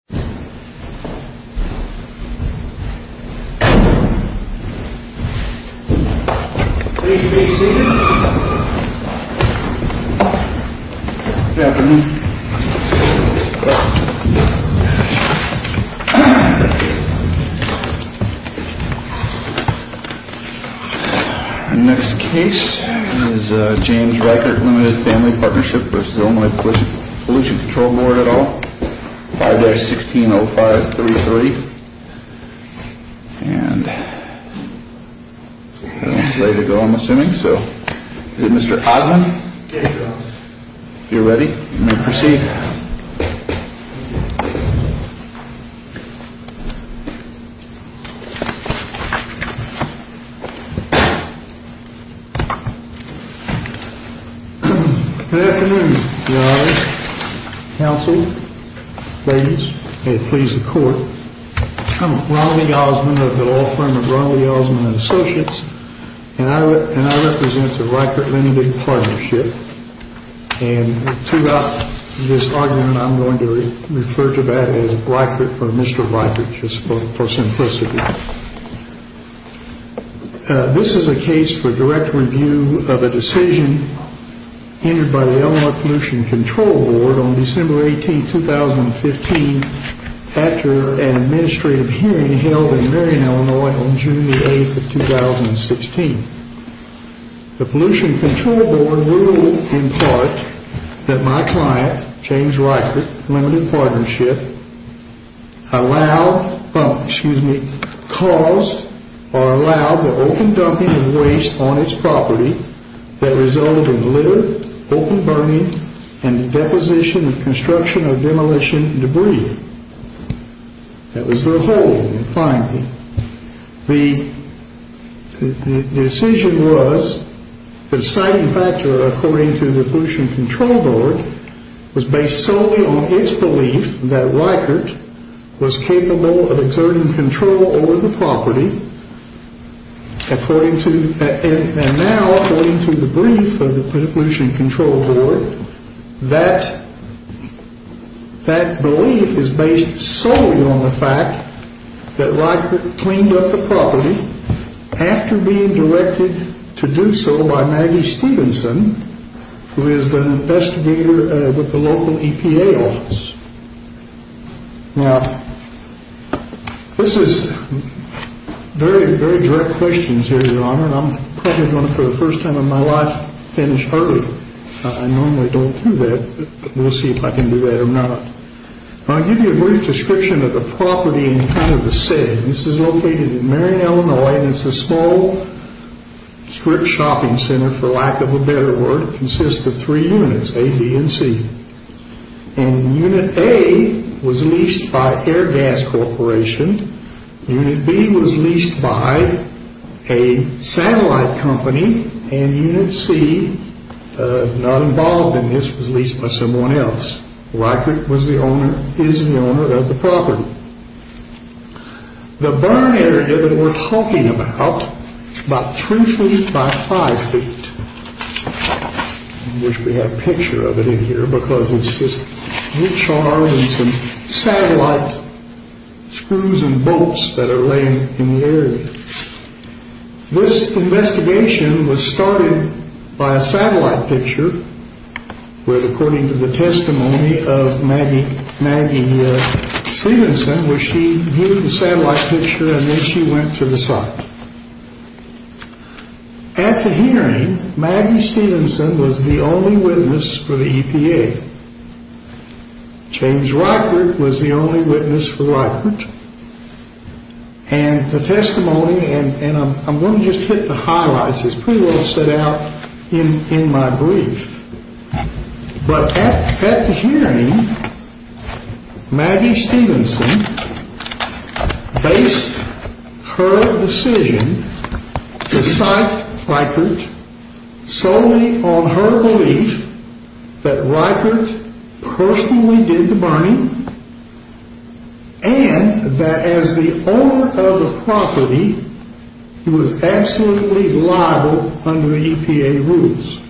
5-640-321-0060 The following case is James Reichert Ltd. Family Partnership v. Illinois Pollution Control Board. Please be seated. Good afternoon. The next case is James Reichert Ltd. Family Partnership v. Illinois Pollution Control Board at all. 5-1605-330. And that's the way to go, I'm assuming. So, is it Mr. Osmond? Yes, Your Honor. If you're ready, you may proceed. Good afternoon, Your Honor. Counsel, ladies, may it please the Court, I'm Ronald E. Osmond of the law firm of Ronald E. Osmond & Associates, and I represent the Reichert Ltd. Partnership, and throughout this argument, I'm going to refer to that as Reichert for Mr. Reichert, just for simplicity. This is a case for direct review of a decision entered by the Illinois Pollution Control Board on December 18, 2015, after an administrative hearing held in Marion, Illinois, on June 8, 2016. The Pollution Control Board ruled, in part, that my client, James Reichert, Ltd. Partnership, caused or allowed the open dumping of waste on its property that resulted in litter, open burning, and deposition and construction of demolition debris. That was their hold, The decision was that a citing factor, according to the Pollution Control Board, was based solely on its belief that Reichert was capable of exerting control over the property, and now, according to the brief of the Pollution Control Board, that belief is based solely on the fact that Reichert cleaned up the property after being directed to do so by Maggie Stephenson, who is an investigator with the local EPA office. Now, this is very, very direct questions here, Your Honor, and I'm probably going to, for the first time in my life, finish early. I normally don't do that, but we'll see if I can do that or not. I'll give you a brief description of the property and kind of the setting. This is located in Marion, Illinois, and it's a small strip shopping center, for lack of a better word. It consists of three units, A, B, and C. And Unit A was leased by Air Gas Corporation. Unit B was leased by a satellite company, and Unit C, not involved in this, was leased by someone else. Reichert is the owner of the property. The burn area that we're talking about is about three feet by five feet. I wish we had a picture of it in here, because it's just recharging some satellite screws and bolts that are laying in the area. This investigation was started by a satellite picture with, according to the testimony of Maggie Stephenson, where she viewed the satellite picture, and then she went to the site. At the hearing, Maggie Stephenson was the only witness for the EPA. James Reichert was the only witness for Reichert. And the testimony, and I'm going to just hit the highlights. It's pretty well set out in my brief. But at the hearing, Maggie Stephenson based her decision to cite Reichert solely on her belief that Reichert personally did the burning, and that as the owner of the property, he was absolutely liable under EPA rules.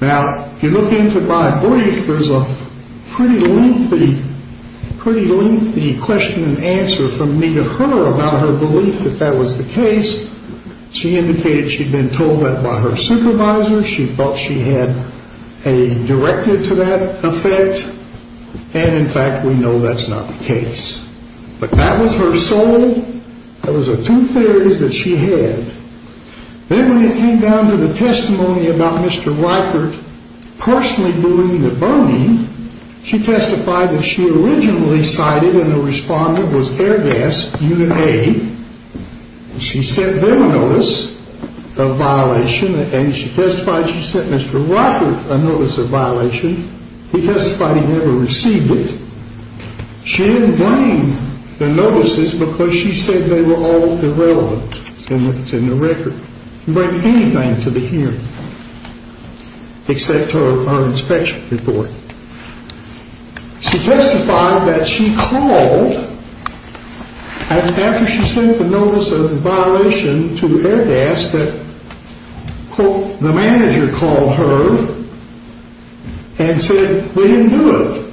Now, if you look into my brief, there's a pretty lengthy question and answer from me to her about her belief that that was the case. She indicated she'd been told that by her supervisor. She felt she had a directive to that effect, and in fact, we know that's not the case. But that was her soul. That was the two theories that she had. Then when it came down to the testimony about Mr. Reichert personally doing the burning, she testified that she originally cited, and the respondent was Air Gas, Unit A. She sent them a notice of violation, and she testified she sent Mr. Reichert a notice of violation. He testified he never received it. She didn't blame the notices because she said they were all irrelevant in the record. She didn't bring anything to the hearing except her inspection report. She testified that she called after she sent the notice of violation to Air Gas that, quote, the manager called her and said we didn't do it.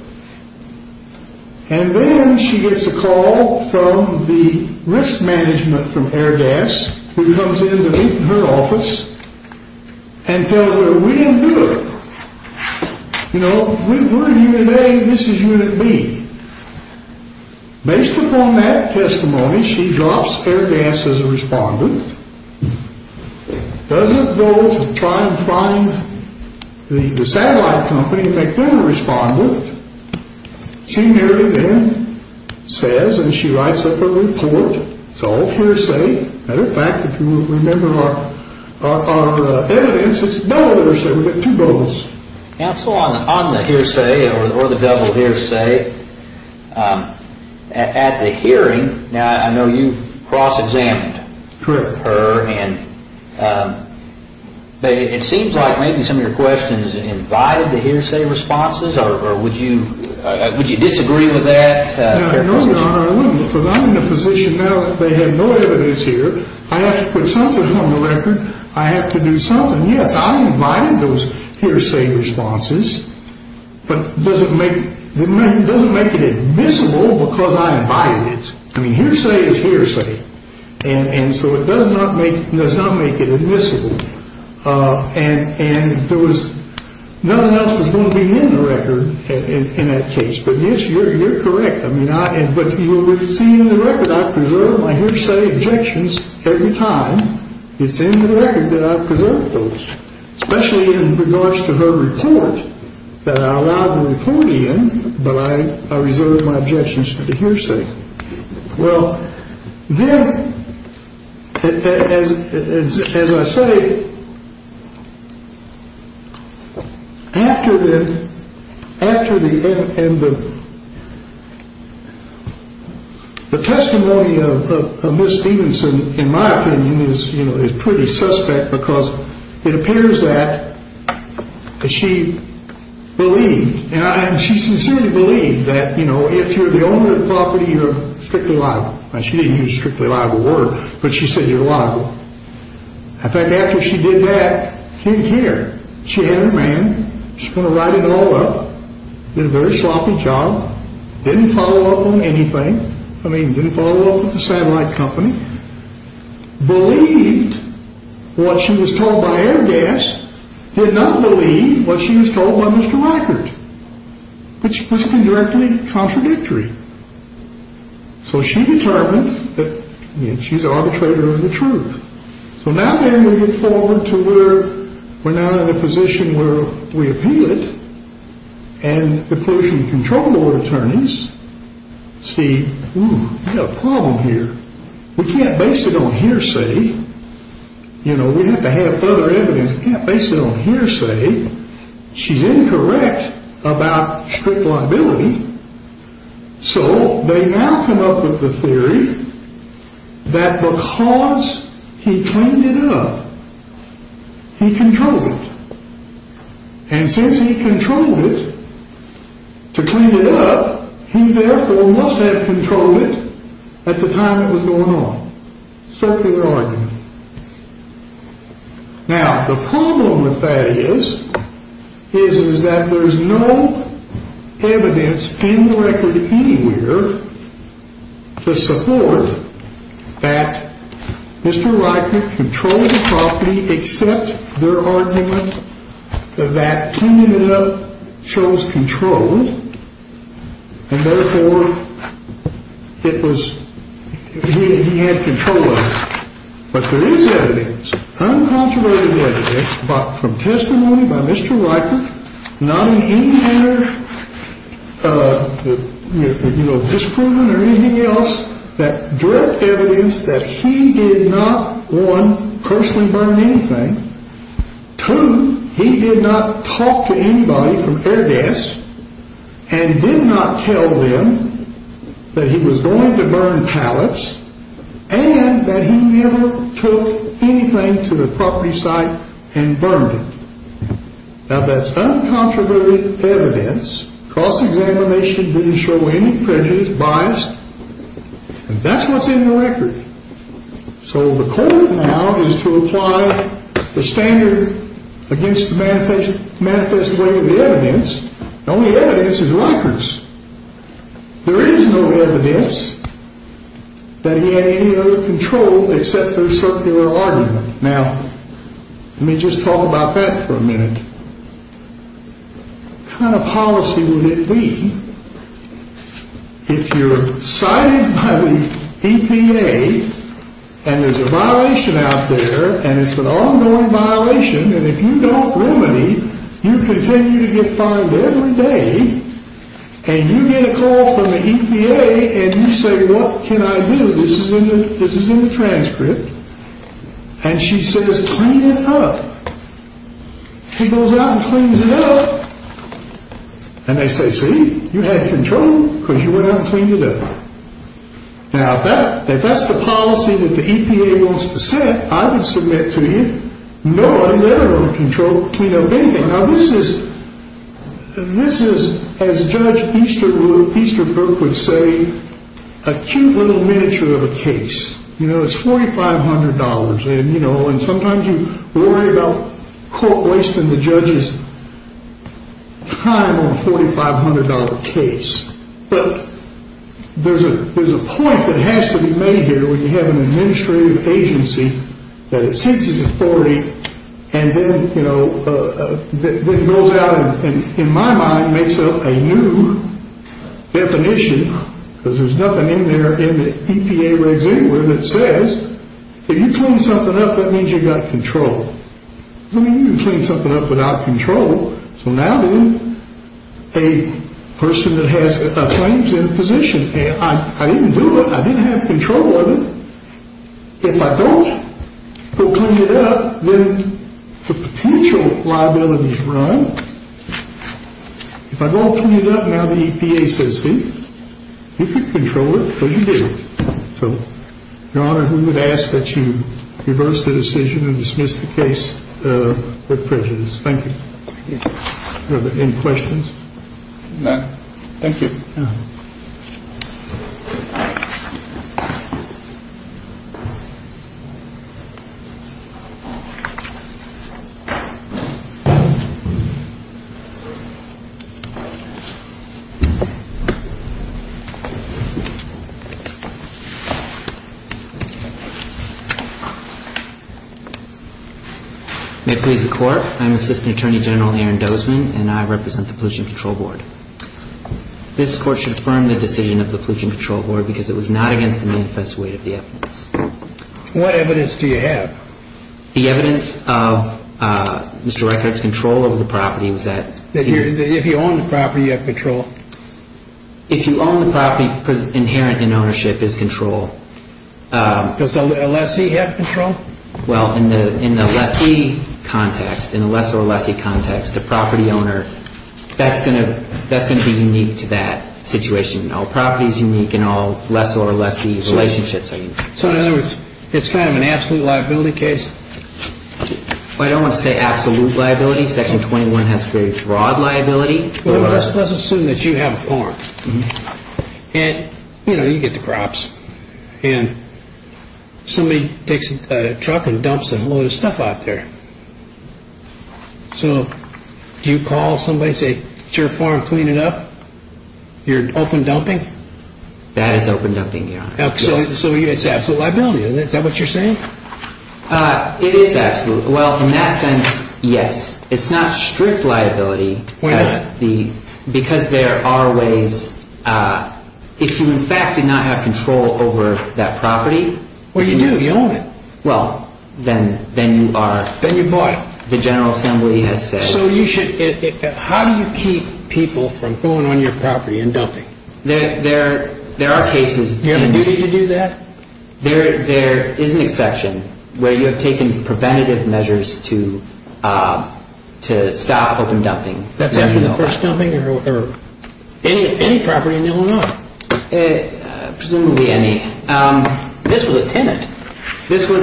And then she gets a call from the risk management from Air Gas who comes in to meet in her office and tells her we didn't do it. You know, we're Unit A. This is Unit B. Based upon that testimony, she drops Air Gas as a respondent, doesn't go to try and find the satellite company and make them a respondent. She merely then says, and she writes up a report, it's all hearsay. As a matter of fact, if you remember our evidence, it's double hearsay. We get two votes. Counsel, on the hearsay or the double hearsay, at the hearing, I know you cross-examined her. Correct. It seems like maybe some of your questions invited the hearsay responses, or would you disagree with that? No, Your Honor, I wouldn't, because I'm in a position now that they have no evidence here. I have to put something on the record. I have to do something. Yes, I invited those hearsay responses, but it doesn't make it admissible because I invited it. I mean, hearsay is hearsay, and so it does not make it admissible. And there was nothing else that was going to be in the record in that case, but yes, you're correct. But you will see in the record I preserve my hearsay objections every time. It's in the record that I preserve those, especially in regards to her report that I allowed the report in, but I reserve my objections to the hearsay. Well, then, as I say, after the testimony of Ms. Stevenson, in my opinion, is pretty suspect because it appears that she believed, and she sincerely believed that, you know, if you're the owner of the property, you're strictly liable. Now, she didn't use strictly liable word, but she said you're liable. In fact, after she did that, she didn't care. She had her man. She's going to write it all up. Did a very sloppy job. Didn't follow up on anything. I mean, didn't follow up with the satellite company. Believed what she was told by Airgas. Did not believe what she was told by Mr. Rackert, which was directly contradictory. So she determined that she's an arbitrator of the truth. So now then we get forward to where we're now in a position where we appeal it, and the pollution control board attorneys see, ooh, we've got a problem here. We can't base it on hearsay. You know, we have to have other evidence. We can't base it on hearsay. She's incorrect about strict liability. So they now come up with the theory that because he cleaned it up, he controlled it. And since he controlled it to clean it up, he therefore must have controlled it at the time it was going on. Circular argument. Now, the problem with that is, is that there's no evidence in the record anywhere to support that Mr. Rackert controlled the property, except their argument that he ended up, chose control, and therefore it was, he had control of it. But there is evidence, uncontroverted evidence, from testimony by Mr. Rackert, not in any manner, you know, disproven or anything else, that direct evidence that he did not, one, personally burn anything. Two, he did not talk to anybody from Air Desk and did not tell them that he was going to burn pallets and that he never took anything to the property site and burned it. Now, that's uncontroverted evidence. Cross-examination didn't show any prejudice, bias. And that's what's in the record. So the code now is to apply the standard against the manifest way of the evidence. The only evidence is Rackert's. There is no evidence that he had any other control except their circular argument. Now, let me just talk about that for a minute. What kind of policy would it be if you're cited by the EPA and there's a violation out there, and it's an ongoing violation, and if you don't remedy, you continue to get fined every day, and you get a call from the EPA and you say, what can I do? This is in the transcript. And she says, clean it up. She goes out and cleans it up. And they say, see, you had control because you went out and cleaned it up. Now, if that's the policy that the EPA wants to set, I would submit to you, no, I'm never going to control, clean up anything. Now, this is, as Judge Easterbrook would say, a cute little miniature of a case. It's $4,500. And sometimes you worry about court wasting the judge's time on a $4,500 case. But there's a point that has to be made here when you have an administrative agency that it senses it's 40 and then, you know, it goes out and, in my mind, makes up a new definition, because there's nothing in there in the EPA resume that says if you clean something up, that means you've got control. It doesn't mean you can clean something up without control. So now then, a person that has claims in a position, I didn't do it, I didn't have control of it. If I don't go clean it up, then the potential liabilities run. If I don't clean it up, now the EPA says, see, you can control it because you did it. So, Your Honor, we would ask that you reverse the decision and dismiss the case with prejudice. Thank you. Thank you. Are there any questions? None. Thank you. Thank you, Your Honor. This Court should affirm the decision of the Pollution Control Board because it was not against the manifest weight of the evidence. What evidence do you have? The evidence of Mr. Reichert's control over the property was that he... If you own the property, you have control. If you own the property, inherent in ownership is control. Does a lessee have control? Well, in the lessee context, in the lessor-lessee context, the property owner, that's going to be unique to that situation. All property is unique and all lessor-lessee relationships are unique. So in other words, it's kind of an absolute liability case? I don't want to say absolute liability. Section 21 has very broad liability. Well, let's assume that you have a farm. And, you know, you get the crops. And somebody takes a truck and dumps a load of stuff out there. So do you call somebody and say, it's your farm, clean it up? You're open dumping? That is open dumping, Your Honor. So it's absolute liability. Is that what you're saying? It is absolute. Well, in that sense, yes. It's not strict liability. Why not? Because there are ways. If you, in fact, did not have control over that property. Well, you do. You own it. Well, then you are. Then you bought it. The General Assembly has said. So you should. How do you keep people from going on your property and dumping? There are cases. Do you have a duty to do that? There is an exception where you have taken preventative measures to stop open dumping. That's after the first dumping? Or any property in Illinois? Presumably any. This was a tenant. Well,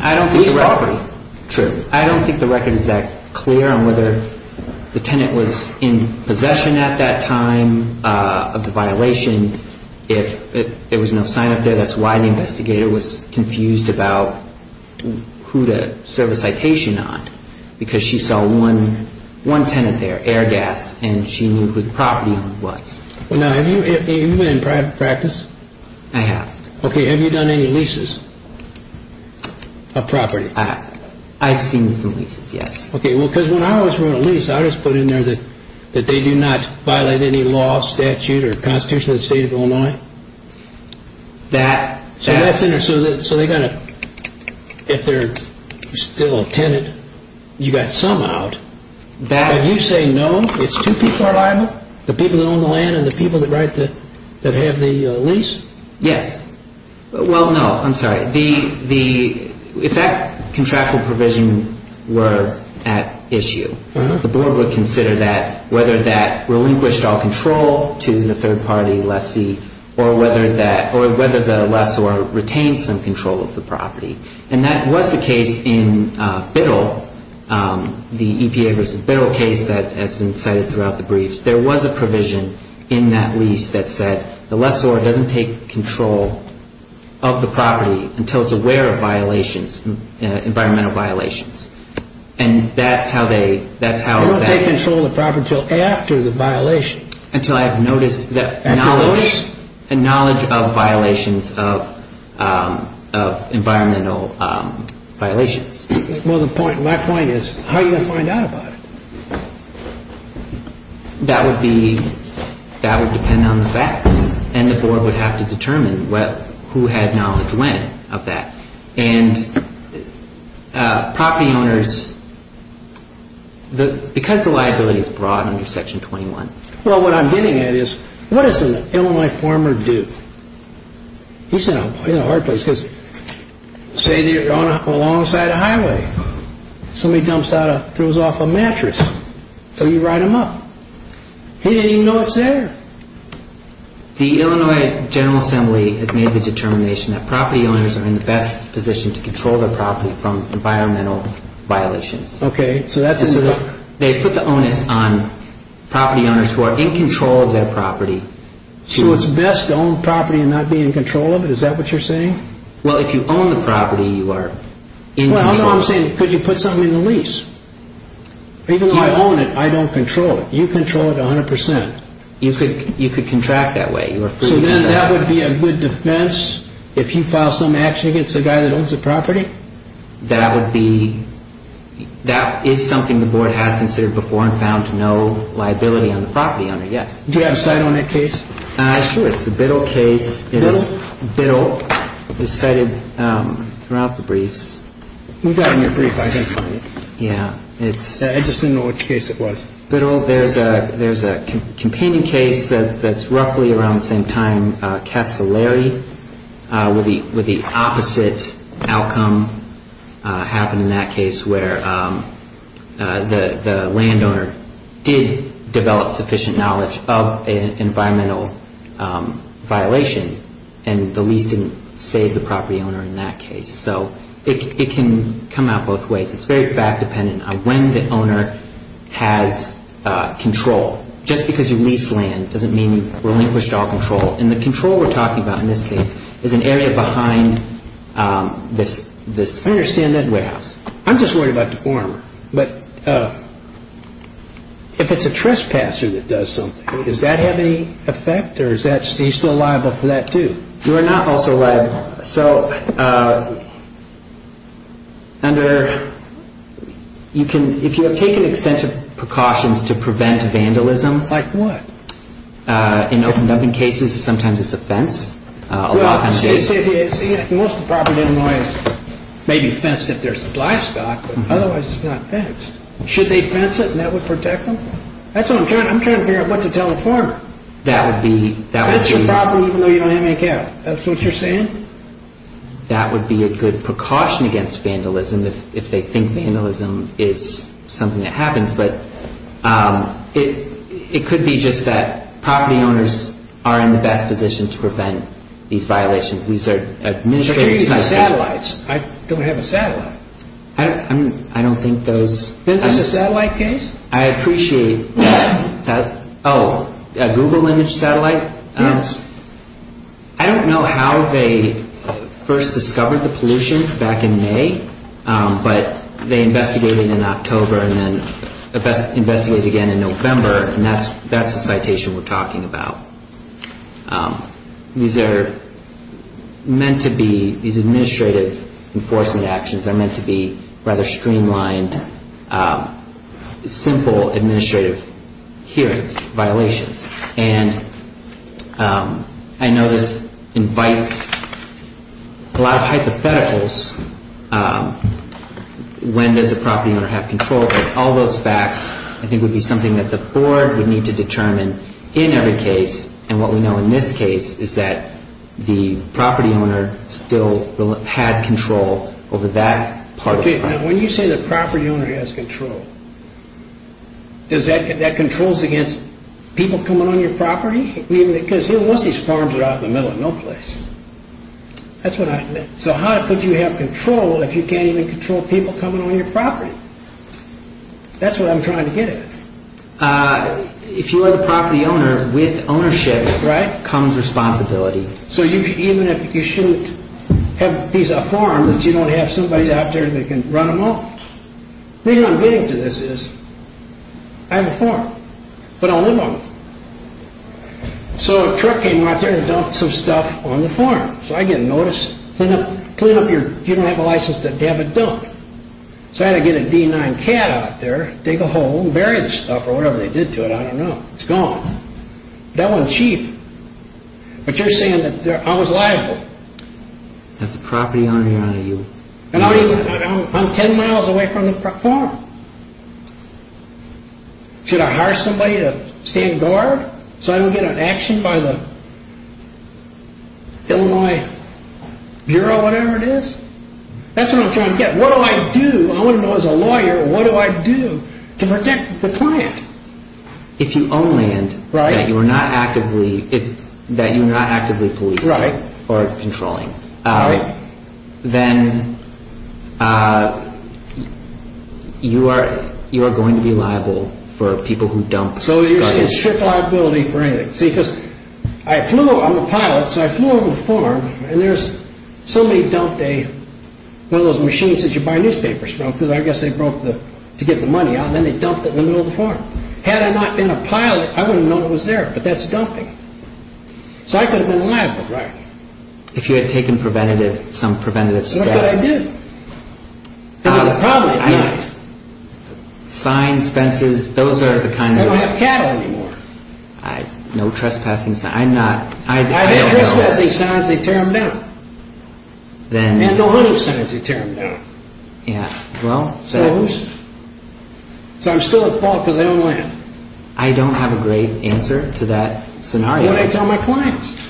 I don't think the record is that clear on whether the tenant was in possession at that time of the violation. If there was no sign up there, That's why the investigator was confused about who to serve a citation on. Because she saw one tenant there, Airgas, and she knew who the property owner was. Now, have you been in private practice? I have. Okay. Have you done any leases of property? I've seen some leases, yes. Okay. Well, because when I was running a lease, I just put in there that they do not violate any law, statute, or constitution of the state of Illinois. So that's interesting. So if they're still a tenant, you got some out. But you say no, it's two people are liable? The people that own the land and the people that have the lease? Yes. Well, no, I'm sorry. If that contractual provision were at issue, the board would consider that, whether that relinquished all control to the third-party lessee, or whether the lessor retained some control of the property. And that was the case in Biddle, the EPA versus Biddle case that has been cited throughout the briefs. There was a provision in that lease that said the lessor doesn't take control of the property until it's aware of environmental violations. And that's how they ---- They don't take control of the property until after the violation. Until I've noticed the knowledge of violations of environmental violations. Well, my point is, how are you going to find out about it? That would depend on the facts. And the board would have to determine who had knowledge when of that. And property owners, because the liability is broad under Section 21. Well, what I'm getting at is, what does an Illinois farmer do? This is a hard place, because say you're along the side of the highway. Somebody throws off a mattress. So you ride them up. He doesn't even know it's there. The Illinois General Assembly has made the determination that property owners are in the best position to control their property from environmental violations. Okay, so that's a ---- They put the onus on property owners who are in control of their property to ---- So it's best to own property and not be in control of it? Is that what you're saying? Well, if you own the property, you are in control. Well, no, I'm saying could you put something in the lease? Even though I own it, I don't control it. You control it 100%. You could contract that way. So then that would be a good defense if you file some action against a guy that owns the property? That would be ---- That is something the board has considered before and found no liability on the property owner, yes. Do you have a cite on that case? Sure, it's the Biddle case. Biddle? Biddle. It's cited throughout the briefs. We got it in your brief, I didn't find it. Yeah, it's ---- I just didn't know which case it was. Biddle, there's a companion case that's roughly around the same time. Castellari with the opposite outcome happened in that case where the landowner did develop sufficient knowledge of an environmental violation and the lease didn't save the property owner in that case. So it can come out both ways. It's very fact dependent on when the owner has control. Just because you lease land doesn't mean you've relinquished all control. And the control we're talking about in this case is an area behind this warehouse. I understand that. I'm just worried about the forearmer. But if it's a trespasser that does something, does that have any effect or is he still liable for that too? You are not also liable. So under, you can, if you have taken extensive precautions to prevent vandalism. Like what? In open dumping cases, sometimes it's a fence. Well, most of the property in Illinois is maybe fenced if there's livestock, but otherwise it's not fenced. Should they fence it and that would protect them? That's what I'm trying to figure out, what to tell the forearmer. That would be. Fence your property even though you don't have any cattle. That's what you're saying? That would be a good precaution against vandalism if they think vandalism is something that happens. But it could be just that property owners are in the best position to prevent these violations. These are administrative. But you're using satellites. I don't have a satellite. I don't think those. Is this a satellite case? I appreciate that. Oh, a Google image satellite? Yes. I don't know how they first discovered the pollution back in May, but they investigated it in October and then investigated it again in November, and that's the citation we're talking about. These are meant to be, these administrative enforcement actions are meant to be rather streamlined, simple administrative hearings, violations. And I know this invites a lot of hypotheticals. When does a property owner have control? All those facts I think would be something that the board would need to determine in every case, and what we know in this case is that the property owner still had control over that part of the property. Okay, now when you say the property owner has control, does that control against people coming on your property? Because most of these farms are out in the middle of no place. So how could you have control if you can't even control people coming on your property? That's what I'm trying to get at. If you are the property owner, with ownership comes responsibility. So even if you shouldn't have a piece of farm that you don't have somebody out there that can run them off. The reason I'm getting to this is, I have a farm, but I live on it. So a truck came out there and dumped some stuff on the farm. So I get notice, clean up your, you don't have a license to have a dump. So I had to get a D9 cat out there, dig a hole, bury the stuff or whatever they did to it, I don't know, it's gone. That went cheap. But you're saying that I was liable. As the property owner, you... I'm 10 miles away from the farm. Should I hire somebody to stand guard so I don't get an action by the Illinois Bureau or whatever it is? That's what I'm trying to get. What do I do, I want to know as a lawyer, what do I do to protect the client? If you own land that you are not actively policing or controlling, then you are going to be liable for people who dump garbage. So you're saying strict liability for anything. See, because I flew over, I'm a pilot, so I flew over to the farm, and somebody dumped one of those machines that you buy newspapers from, to get the money out, and then they dumped it in the middle of the farm. Had I not been a pilot, I wouldn't have known it was there, but that's dumping. So I could have been liable, right? If you had taken some preventative steps. Look what I did. Signs, fences, those are the kind of... They don't have cattle anymore. No trespassing signs, I'm not... I did trespassing signs, they tear them down. And no hunting signs, they tear them down. So I'm still at fault because I own land. I don't have a great answer to that scenario. What do I tell my clients?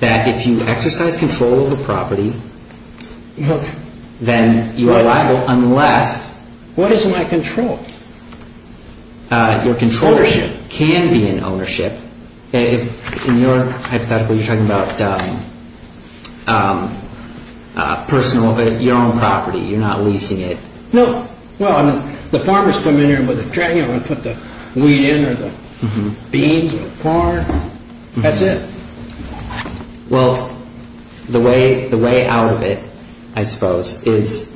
That if you exercise control over property, then you are liable unless... What is my control? Your control can be in ownership. In your hypothetical, you're talking about personal, but your own property. You're not leasing it. No. Well, the farmers come in here with a tray, they want to put the weed in or the beans or corn. That's it. Well, the way out of it, I suppose, is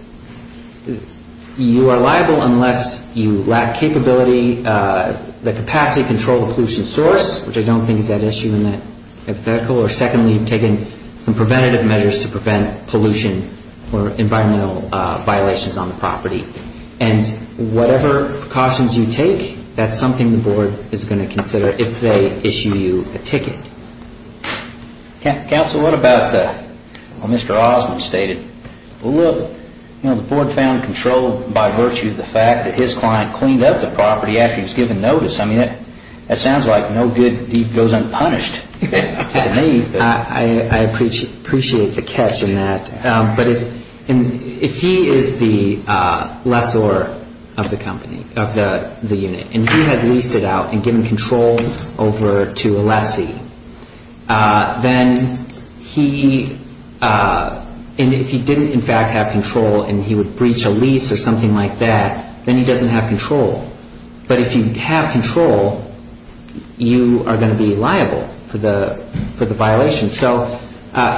you are liable unless you lack capability, the capacity to control the pollution source, which I don't think is that issue in that hypothetical, or secondly, you've taken some preventative measures to prevent pollution or environmental violations on the property. And whatever precautions you take, that's something the board is going to consider if they issue you a ticket. Counsel, what about what Mr. Osmond stated? Well, look, the board found control by virtue of the fact that his client cleaned up the property after he was given notice. I mean, that sounds like no good goes unpunished to me. I appreciate the catch in that. But if he is the lessor of the company, of the unit, and he has leased it out and given control over to a lessee, then he, and if he didn't in fact have control and he would breach a lease or something like that, then he doesn't have control. But if you have control, you are going to be liable for the violation. So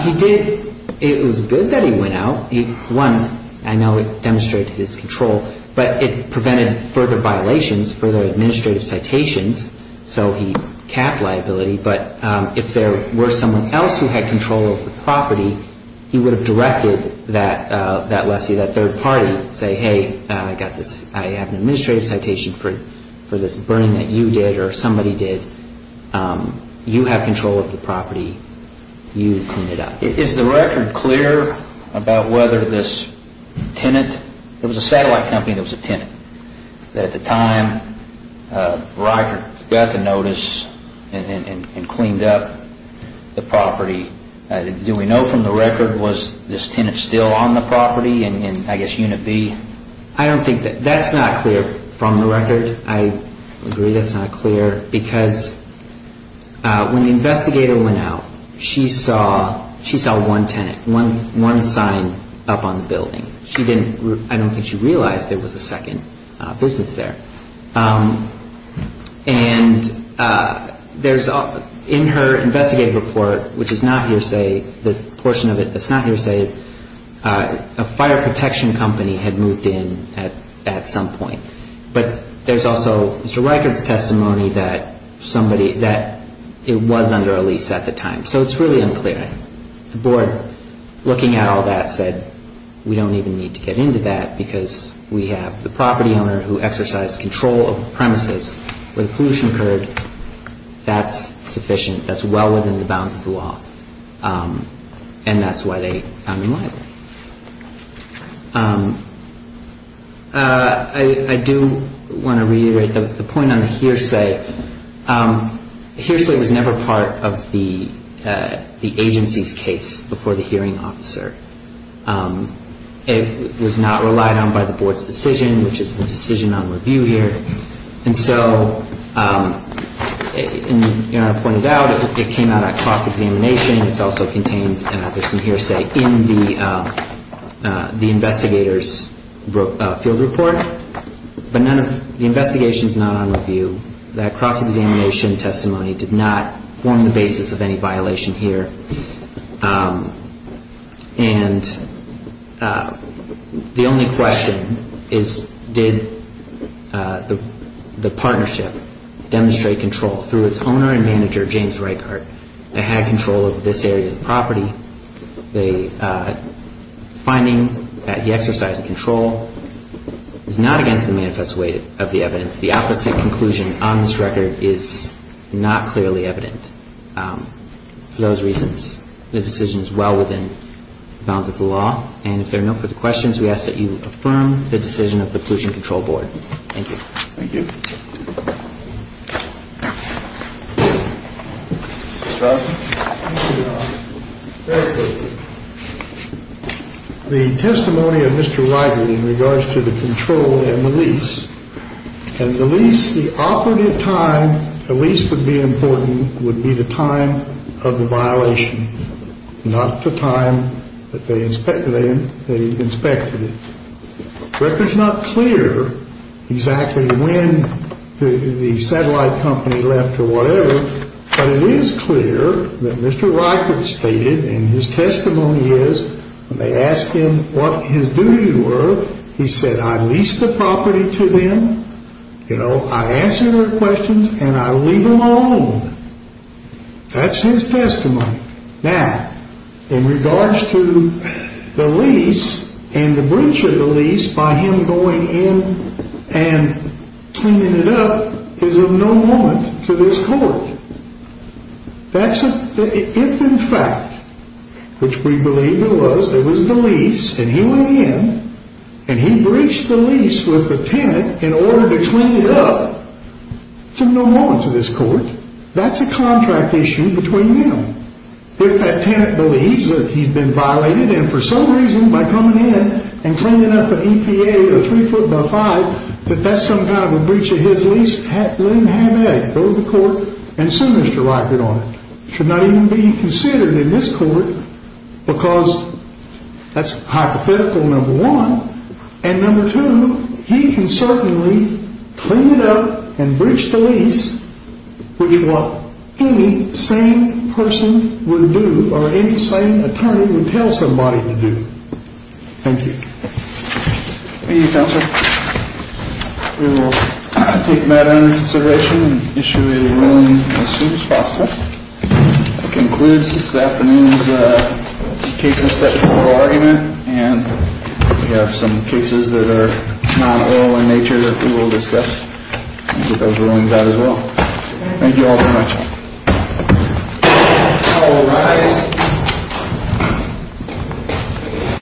he did, it was good that he went out. One, I know it demonstrated his control, but it prevented further violations, further administrative citations, so he capped liability. But if there were someone else who had control of the property, he would have directed that lessee, that third party, say, hey, I have an administrative citation for this burning that you did or somebody did. You have control of the property. You clean it up. Is the record clear about whether this tenant, it was a satellite company that was a tenant, that at the time Ryker got the notice and cleaned up the property? Do we know from the record was this tenant still on the property in I guess unit B? I don't think that, that's not clear from the record. I agree that's not clear because when the investigator went out, she saw one tenant, one sign up on the building. She didn't, I don't think she realized there was a second business there. And there's, in her investigative report, which is not hearsay, the portion of it that's not hearsay is a fire protection company had moved in at some point. But there's also Mr. Ryker's testimony that somebody, that it was under a lease at the time. So it's really unclear. The board, looking at all that, said we don't even need to get into that because we have the property owner who exercised control of the premises where the pollution occurred. That's sufficient. That's well within the bounds of the law. And that's why they found him liable. I do want to reiterate the point on the hearsay. Hearsay was never part of the agency's case before the hearing officer. It was not relied on by the board's decision, which is the decision on review here. And so, as I pointed out, it came out at cross-examination. It's also contained, there's some hearsay, in the investigator's field report. But the investigation is not on review. That cross-examination testimony did not form the basis of any violation here. And the only question is, did the partnership demonstrate control? Through its owner and manager, James Ryker, they had control of this area's property. The finding that he exercised control is not against the manifest way of the evidence. The opposite conclusion on this record is not clearly evident. For those reasons, the decision is well within the bounds of the law. And if there are no further questions, we ask that you affirm the decision of the Pollution Control Board. Thank you. Thank you. Mr. Osborne. Thank you, Your Honor. Very quickly, the testimony of Mr. Ryker in regards to the control and the lease. And the lease, the operative time, the lease would be important, would be the time of the violation, not the time that they inspected it. The record's not clear exactly when the satellite company left or whatever, but it is clear that Mr. Ryker stated, and his testimony is, when they asked him what his duties were, he said, I lease the property to them, you know, I answer their questions, and I leave them alone. That's his testimony. Now, in regards to the lease and the breach of the lease by him going in and cleaning it up is of no moment to this Court. If, in fact, which we believe it was, it was the lease, and he went in, and he breached the lease with the tenant in order to clean it up, it's of no moment to this Court. That's a contract issue between them. If that tenant believes that he's been violated, and for some reason, by coming in and cleaning up an EPA, that that's some kind of a breach of his lease, let him have at it. Go to the Court and sue Mr. Ryker on it. It should not even be considered in this Court because that's hypothetical, number one, and number two, he can certainly clean it up and breach the lease, which what any sane person would do or any sane attorney would tell somebody to do. Thank you. Thank you, Counselor. We will take that under consideration and issue a ruling as soon as possible. That concludes this afternoon's case and step oral argument, and we have some cases that are not oral in nature that we will discuss and get those rulings out as well. Thank you all very much. The court will rise.